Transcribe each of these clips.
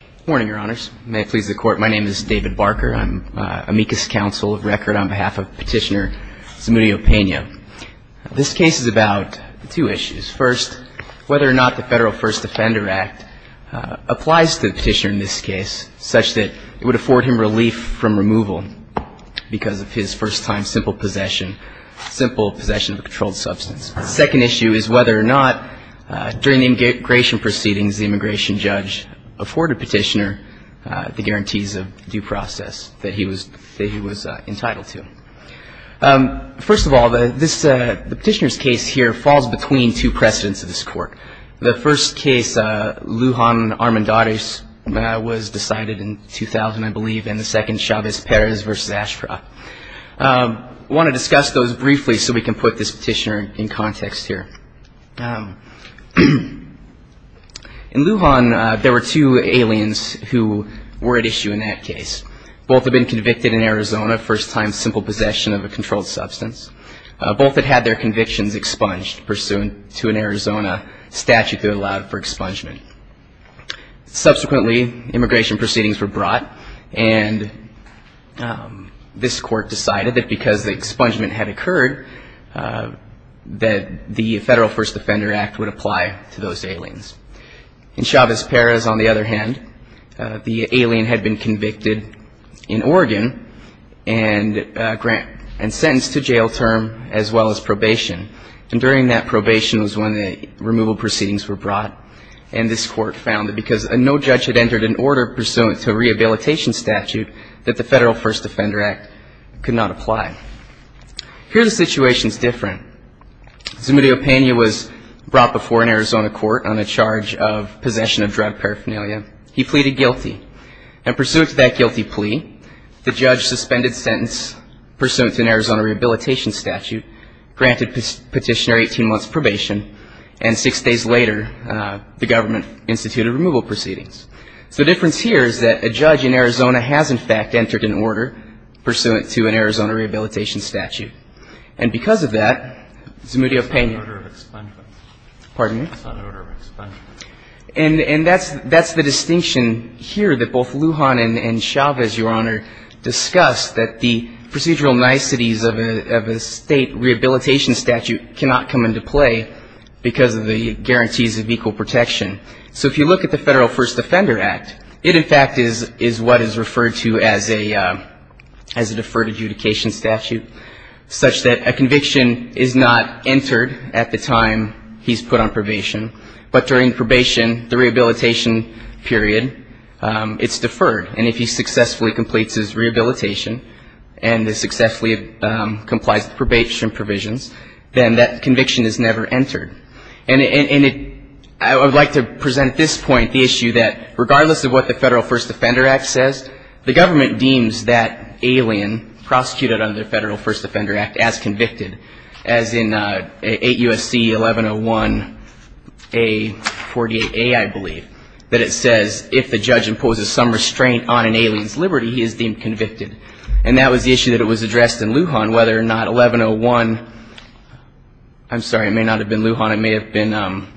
Good morning, Your Honors. May it please the Court, my name is David Barker. I'm amicus counsel of record on behalf of Petitioner Zamudio-Pena. This case is about two issues. First, whether or not the Federal First Offender Act applies to the petitioner in this case such that it would afford him relief from removal because of his first-time simple possession of a controlled substance. The second issue is whether or not during the immigration proceedings judge afforded Petitioner the guarantees of due process that he was entitled to. First of all, the petitioner's case here falls between two precedents of this Court. The first case, Lujan Armendariz, was decided in 2000, I believe, and the second, Chavez-Perez v. Ashraf. I believe, in Lujan, there were two aliens who were at issue in that case. Both had been convicted in Arizona, first-time simple possession of a controlled substance. Both had had their convictions expunged pursuant to an Arizona statute that allowed for expungement. Subsequently, immigration proceedings were brought and this Court decided that because the expungement had occurred, that the Federal First Offender Act would apply to those aliens. In Chavez-Perez, on the other hand, the alien had been convicted in Oregon and sentenced to jail term as well as probation. And during that probation was when the removal proceedings were brought and this Court found that because no judge had entered an order pursuant to a rehabilitation statute, that the Federal First Offender Act could not apply. Here the situation is different. Zumbido Pena was brought before an Arizona court on a charge of possession of drug paraphernalia. He pleaded guilty. And pursuant to that guilty plea, the judge suspended sentence pursuant to an Arizona rehabilitation statute, granted petitioner 18 months probation, and six days later, the government instituted removal proceedings. The difference here is that a judge in Arizona has, in fact, entered an order pursuant to an Arizona rehabilitation statute. And because of that, Zumbido Pena — It's not an order of expungement. Pardon me? It's not an order of expungement. And that's the distinction here that both Lujan and Chavez, Your Honor, discussed, that the procedural niceties of a state rehabilitation statute cannot come into play because of the Federal First Offender Act. It, in fact, is what is referred to as a deferred adjudication statute, such that a conviction is not entered at the time he's put on probation, but during probation, the rehabilitation period, it's deferred. And if he successfully completes his rehabilitation and successfully complies with probation provisions, then that conviction is never entered. And it — I would like to present at this point the issue that regardless of what the Federal First Offender Act says, the government deems that alien prosecuted under the Federal First Offender Act as convicted, as in 8 U.S.C. 1101A48A, I believe, that it says if the judge imposes some restraint on an alien's liberty, he is deemed convicted. And that was the issue that was addressed in Lujan, whether or not 1101 — I'm sorry, it may not have been Lujan. It may have been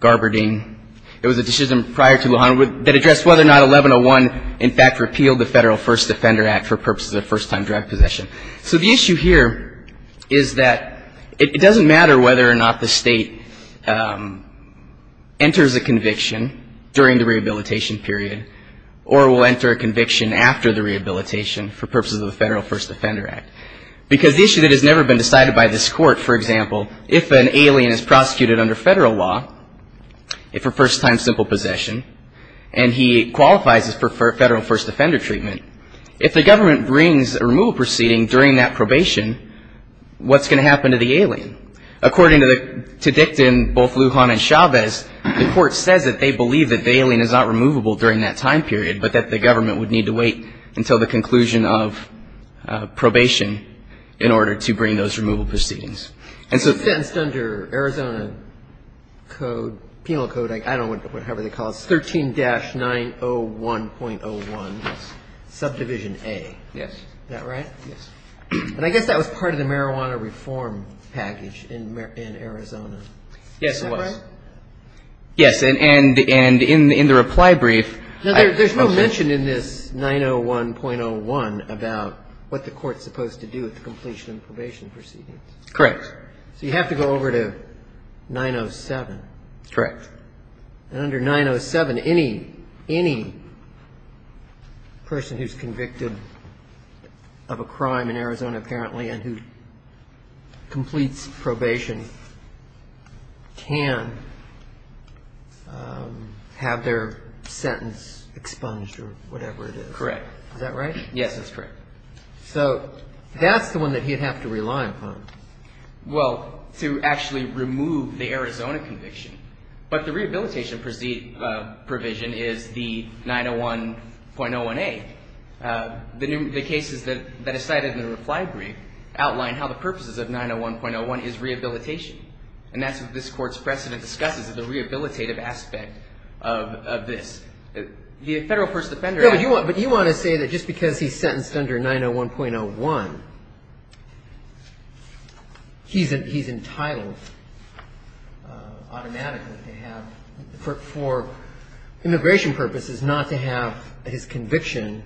Garberding. It was a decision prior to Lujan that addressed whether or not 1101, in fact, repealed the Federal First Offender Act for purposes of first-time drug possession. So the issue here is that it doesn't matter whether or not the state enters a conviction during the rehabilitation period or will enter a conviction after the rehabilitation for purposes of the Federal First Offender Act. Because the issue that has never been decided by this court, for example, if an alien is prosecuted under federal law for first-time simple possession and he qualifies for Federal First Offender treatment, if the government brings a removal proceeding during that probation, what's going to happen to the alien? According to the — to Dicton, both Lujan and Chavez, the court says that they believe that the alien is not removable during that time period, but that the government would need to wait until the conclusion of probation in order to bring those removal proceedings. And so — He was sentenced under Arizona Code — Penal Code, I don't know whatever they call it — 13-901.01 Subdivision A. Yes. Is that right? Yes. And I guess that was part of the marijuana reform package in Arizona. Yes, it was. Is that right? Yes. And in the reply brief — Now, there's no mention in this 901.01 about what the court's supposed to do at the completion of probation proceedings. Correct. So you have to go over to 907. Correct. And under 907, any — any person who's convicted of a crime in Arizona, apparently, and who completes probation can have their sentence expunged or whatever it is. Correct. Is that right? Yes, that's correct. So that's the one that he'd have to rely upon. Well, to actually remove the Arizona conviction. But the rehabilitation provision is the 901.01a. The cases that are cited in the reply brief outline how the purposes of 901.01 is rehabilitation. And that's what this Court's precedent discusses, is the rehabilitative aspect of this. The Federal First Defender — But you want to say that just because he's sentenced under 901.01, he's entitled automatically to have — for immigration purposes, not to have his conviction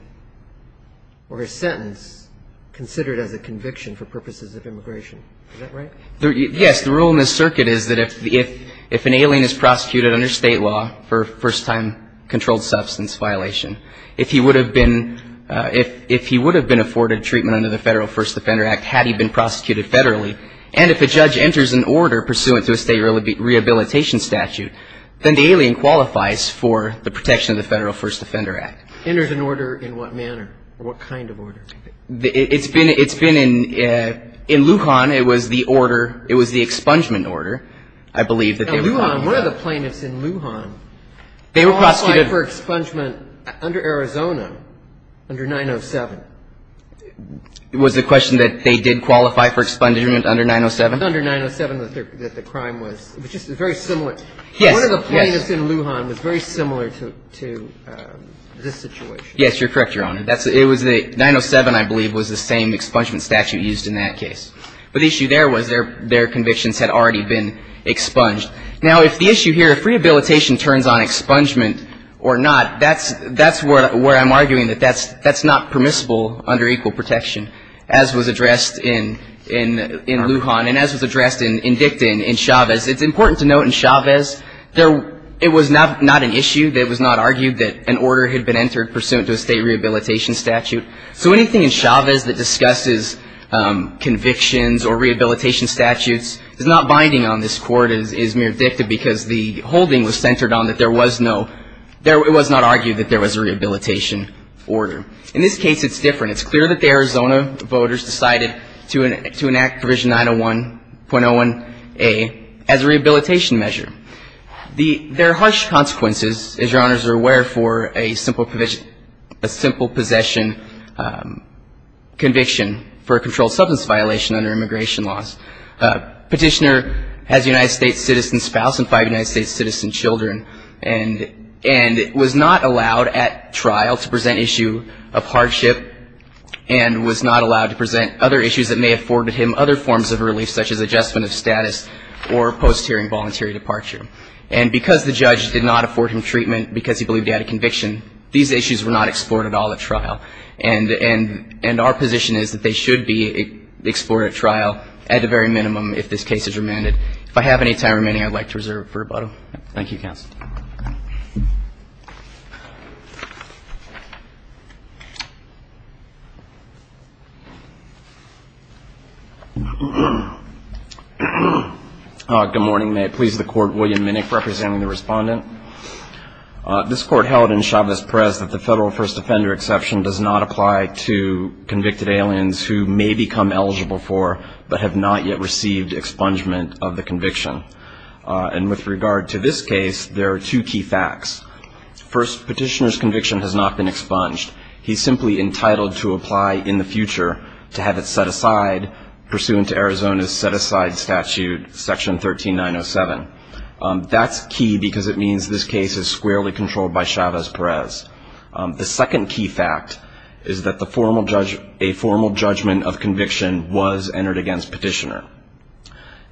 or his sentence considered as a conviction for purposes of immigration. Is that right? Yes. The rule in this circuit is that if an alien is prosecuted under state law for first-time controlled substance violation, if he would have been afforded treatment under the Federal First Defender Act had he been prosecuted federally, and if a judge enters an order pursuant to a state rehabilitation statute, then the alien qualifies for the protection of the Federal First Defender Act. Enters an order in what manner? What kind of order? It's been — in Lujan, it was the order — it was the expungement order, I believe. In Lujan, one of the plaintiffs in Lujan qualified for expungement under Arizona, under 907. Was the question that they did qualify for expungement under 907? Under 907, that the crime was — it was just a very similar — Yes. Yes. One of the plaintiffs in Lujan was very similar to this situation. Yes. You're correct, Your Honor. It was the — 907, I believe, was the same expungement statute used in that case. But the issue there was their convictions had already been expunged. Now, if the issue here — if rehabilitation turns on expungement or not, that's where I'm arguing that that's not permissible under equal protection, as was addressed in Lujan and as was addressed in Dicton, in Chavez. It's important to note in Chavez, there — it was not an issue. It was not argued that an order had been entered pursuant to a state rehabilitation statute. So anything in Chavez that discusses convictions or rehabilitation statutes is not binding on this Court as mere dicta because the holding was centered on that there was no — it was not argued that there was a rehabilitation order. In this case, it's different. It's clear that the Arizona voters decided to enact Provision 901.01a as a rehabilitation measure. There are harsh consequences, as Your Honors are aware, for a simple possession conviction for a controlled substance violation under immigration laws. Petitioner has a United States citizen spouse and five United States citizen children and was not allowed at trial to present issue of hardship and was not allowed to present other issues that may have afforded him other forms of relief such as adjustment of status or post-hearing voluntary departure. And because the judge did not afford him treatment because he believed he had a conviction, these issues were not explored at all at trial. And our position is that they should be explored at trial at the very minimum if this case is remanded. If I have any time remaining, I'd like to reserve it for rebuttal. Thank you, counsel. Thank you. Good morning. May it please the Court, William Minnick representing the Respondent. This Court held in Chavez Press that the Federal First Offender Exception does not apply to convicted aliens who may become eligible for but have not yet received expungement of the conviction. And with regard to this case, there are two key facts. First, Petitioner's conviction has not been expunged. He's simply entitled to apply in the future to have it set aside pursuant to Arizona's set-aside statute, Section 13907. That's key because it means this case is squarely controlled by Chavez-Perez. The second key fact is that a formal judgment of conviction was entered against Petitioner.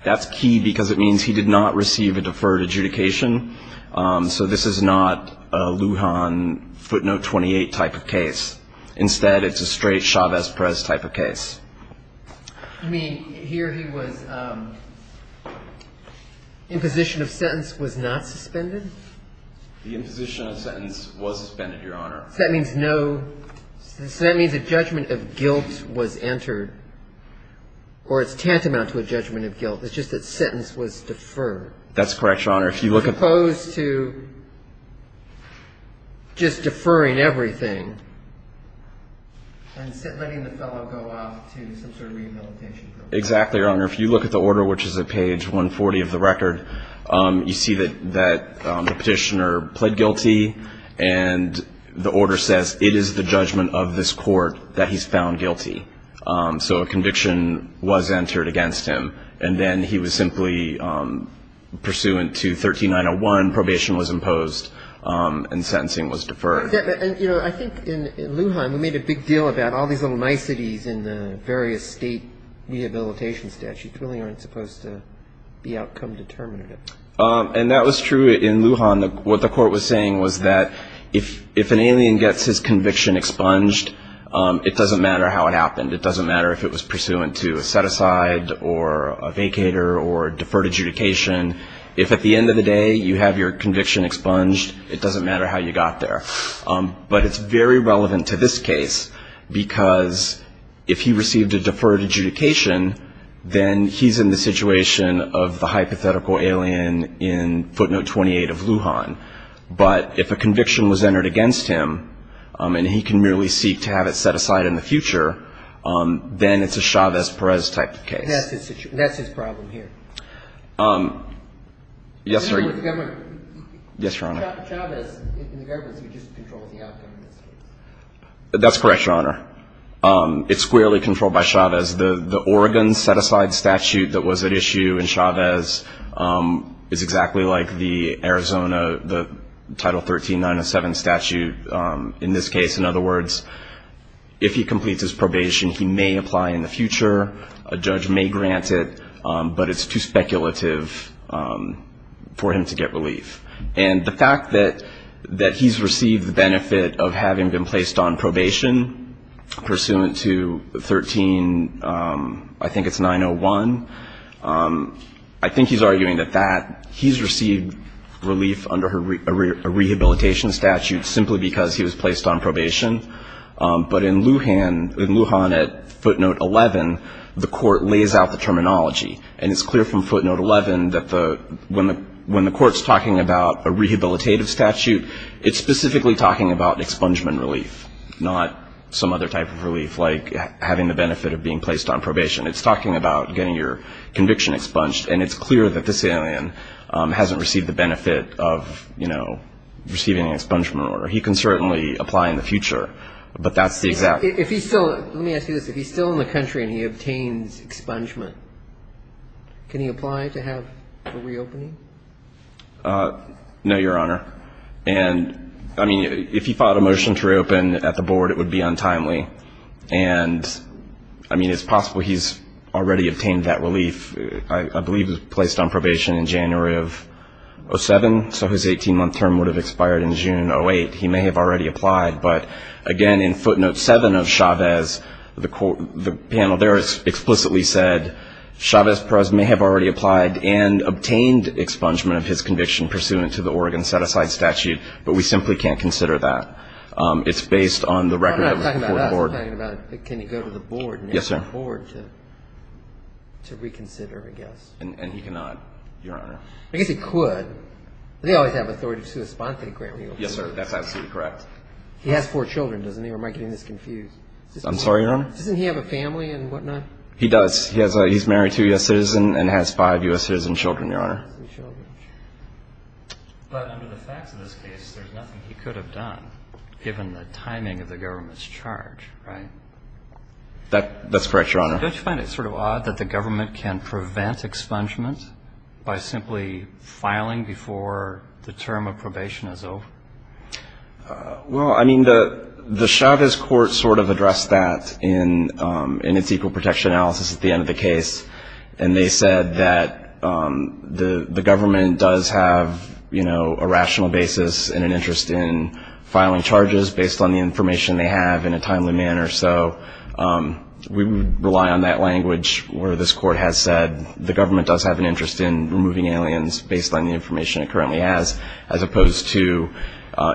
That's key because it means he did not receive a deferred adjudication. So this is not a Lujan footnote 28 type of case. Instead, it's a straight Chavez-Perez type of case. You mean, here he was, imposition of sentence was not suspended? The imposition of sentence was suspended, Your Honor. So that means no, so that means a judgment of guilt was entered, or it's tantamount to a judgment of guilt. It's just that sentence was deferred. That's correct, Your Honor. As opposed to just deferring everything. And letting the fellow go off to some sort of rehabilitation. Exactly, Your Honor. If you look at the order, which is at page 140 of the record, you see that the Petitioner pled guilty and the order says, it is the judgment of this court that he's found guilty. So a conviction was entered against him. And then he was simply pursuant to 13901, probation was imposed and sentencing was deferred. I think in Lujan, we made a big deal about all these little niceties in the various state rehabilitation statutes really aren't supposed to be outcome determinative. And that was true in Lujan. What the court was saying was that if an alien gets his conviction expunged, it doesn't matter how it happened. It doesn't matter if it was pursuant to a set-aside or a vacater or deferred adjudication. If at the end of the day you have your conviction expunged, it doesn't matter how you got there. But it's very relevant to this case because if he received a deferred adjudication, then he's in the situation of the hypothetical alien in footnote 28 of Lujan. But if a conviction was entered against him, and he can merely seek to have it set aside in the future, then it's a Chavez-Perez type of case. That's his problem here. Yes, Your Honor. Chavez in the government would just control the outcome of this case. That's correct, Your Honor. It's squarely controlled by Chavez. The Oregon set-aside statute that was at issue in Chavez is exactly like the Arizona, the Title 13-907 statute in this case. In other words, if he completes his probation, he may apply in the future. A judge may grant it, but it's too speculative for him to get relief. And the fact that he's received the benefit of having been placed on probation pursuant to 13, I think it's 901, I think he's arguing that he's received relief under a rehabilitation statute simply because he was placed on probation. But in Lujan, at footnote 11, the court lays out the terminology. And it's clear from footnote 11 that when the court's talking about a rehabilitative statute, it's specifically talking about expungement relief, not some other type of relief, like having the benefit of being placed on probation. It's talking about getting your conviction expunged, and it's clear that this alien hasn't received the benefit of receiving an expungement order. He can certainly apply in the future, but that's the exact... Let me ask you this. If he's still in the country and he obtains expungement, can he apply to have a reopening? No, Your Honor. If he filed a motion to reopen at the board, it would be untimely. I mean, it's possible he's already obtained that relief. I believe he was placed on probation in January of 07, so his 18-month term would have expired in June 08. He may have already applied. But again, in footnote 7 of Chavez, the panel there has explicitly said Chavez Perez may have already applied and obtained expungement of his conviction pursuant to the Oregon set-aside statute, but we simply can't consider that. It's based on the record of the board. I'm not talking about that. I'm talking about can he go to the board and ask the board to reconsider, I guess. And he cannot, Your Honor. I guess he could, but they always have authority to respond to the grant review. Yes, sir, that's absolutely correct. He has four children, doesn't he? I'm sorry, Your Honor? Doesn't he have a family and whatnot? He does. He's married to a U.S. citizen and has five U.S. citizen children, Your Honor. But under the facts of this case, there's nothing he could have done given the timing of the government's charge, right? That's correct, Your Honor. Don't you find it sort of odd that the government can prevent expungement by simply filing before the term of probation is over? Well, I mean, the Chavez court sort of addressed that in its equal protection analysis at the end of the case. And they said that the government does have a rational basis and an interest in filing charges based on the information they have in a timely manner. So we would rely on that language where this court has said the government does have an interest in removing aliens based on the information it currently has as opposed to,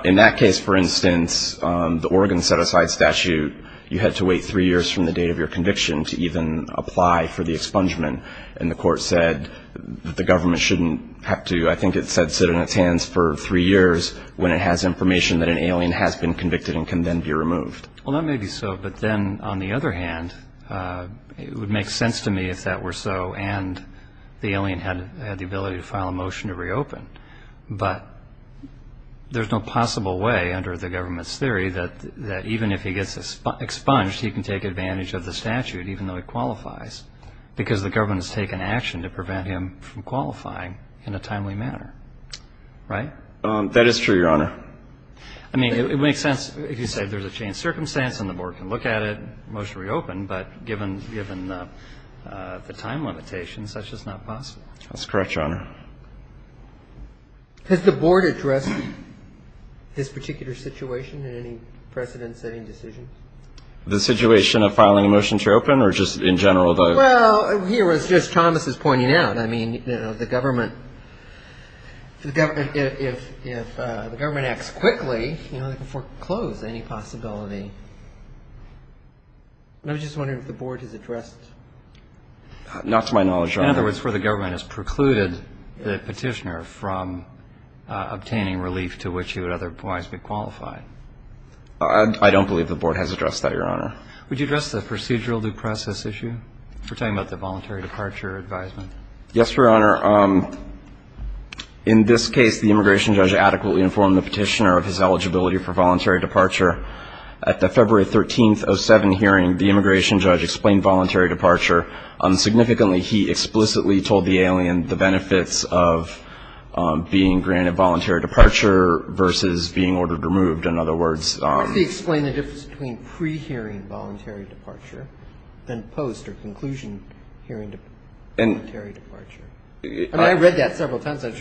in that case, for instance, the Oregon set-aside statute, you had to wait three years from the date of your conviction to even apply for the expungement. And the court said that the government shouldn't have to, I think it said, sit on its hands for three years when it has information that an alien has been convicted and can then be removed. Well, that may be so. But then, on the other hand, it would make sense to me if that were so and the alien had the ability to file a motion to reopen. But there's no possible way under the government's theory that even if he gets expunged, he can take advantage of the statute even though he qualifies because the government has taken action to prevent him from qualifying in a timely manner. Right? That is true, Your Honor. I mean, it would make sense if you said there's a changed circumstance and the board can look at it and motion to reopen, but given the time limitations, that's just not possible. That's correct, Your Honor. Has the board addressed this particular situation in any precedent-setting decision? The situation of filing a motion to reopen or just in general? Well, here, as Justice Thomas is pointing out, if the government acts quickly, they can foreclose any possibility. I was just wondering if the board has addressed... Not to my knowledge, Your Honor. In other words, where the government has precluded the petitioner from obtaining relief to which he would otherwise be qualified. I don't believe the board has addressed that, Your Honor. Would you address the procedural due process issue for talking about the voluntary departure advisement? Yes, Your Honor. In this case, the immigration judge adequately informed the petitioner of his eligibility for voluntary departure. At the February 13, 2007 hearing, the immigration judge explained voluntary departure. Significantly, he explicitly told the alien the benefits of being granted voluntary departure versus being ordered removed. In other words... Could he explain the difference between pre-hearing voluntary departure and post- or conclusion-hearing voluntary departure? I read that several times. I was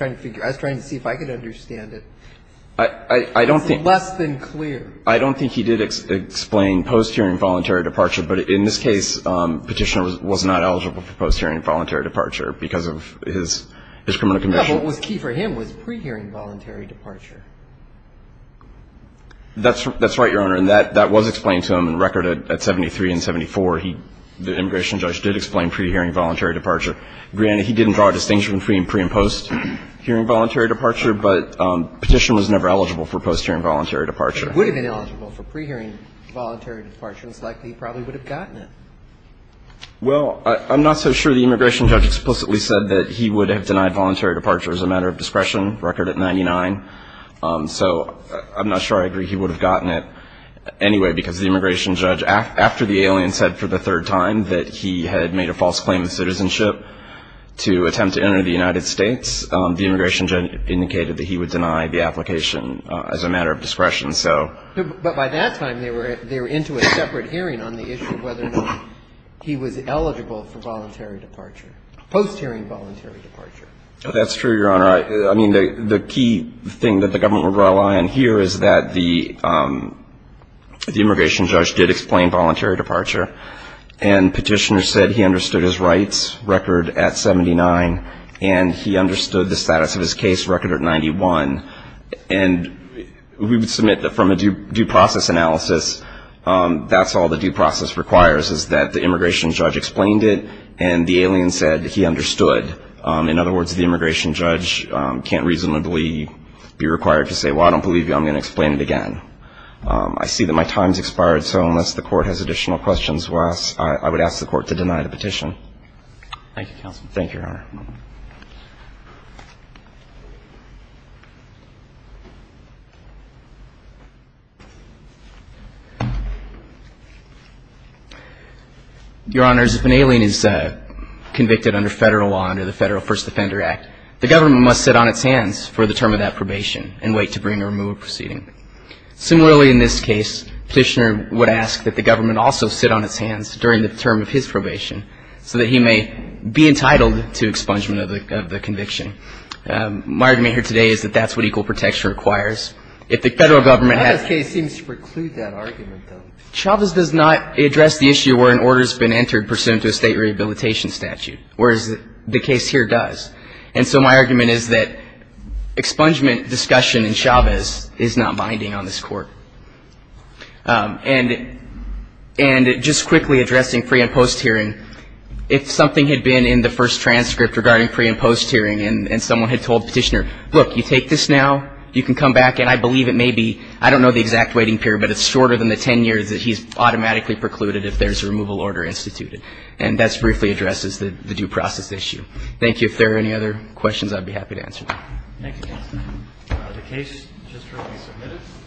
trying to see if I could understand it. It's less than clear. I don't think he did explain post-hearing voluntary departure. But in this case, the petitioner was not eligible for post-hearing voluntary departure because of his criminal conviction. But what was key for him was pre-hearing voluntary departure. That's right, Your Honor. And that was explained to him in record at 73 and 74. The immigration judge did explain pre-hearing voluntary departure. Granted, he didn't draw a distinction between pre- and post-hearing voluntary departure, but the petitioner was never eligible for post-hearing voluntary departure. If he would have been eligible for pre-hearing voluntary departure, it's likely he probably would have gotten it. Well, I'm not so sure the immigration judge explicitly said that he would have denied voluntary departure as a matter of discretion. Record at 99. So I'm not sure I agree he would have gotten it anyway because the immigration judge, after the alien said for the third time that he had made a false claim of citizenship to attempt to enter the United States, the immigration judge indicated that he would deny the application as a matter of discretion. But by that time, they were into a separate hearing on the issue of whether or not he was eligible for voluntary departure, post-hearing voluntary departure. That's true, Your Honor. I mean, the key thing that the government would rely on here is that the immigration judge did explain voluntary departure and petitioner said he understood his rights record at 79 and he understood the status of his case record at 91 and we would submit that from a due process analysis, that's all the due process requires is that the immigration judge explained it and the alien said he understood. In other words, the immigration judge can't reasonably be required to say, well, I don't believe you, I'm going to explain it again. I see that my time has expired, so unless the court has additional questions, I would ask the court to deny the petition. Thank you, Counsel. Thank you, Your Honor. Your Honors, if an alien is convicted under federal law under the Federal First Defender Act, the government must sit on its hands for the term of that probation and wait to bring or remove a proceeding. Similarly, in this case, petitioner would ask that the government also sit on its hands during the term of his probation so that he may be entitled to expungement of the conviction. My argument here today is that that's what equal protection requires. If the federal government has... Chavez does not address the issue where an order has been entered pursuant to a state rehabilitation statute, whereas the case here does. And so my argument is that expungement discussion in Chavez is not binding on this court. And just quickly addressing pre- and post-hearing, if something had been in the first transcript regarding pre- and post-hearing and someone had told petitioner, look, you take this now, you can come back, and I believe it may be, I don't know the exact waiting period, but it's shorter than the 10 years that he's automatically precluded if there's a removal order instituted. And that briefly addresses the due process issue. Thank you. If there are any other questions, I'd be happy to answer them.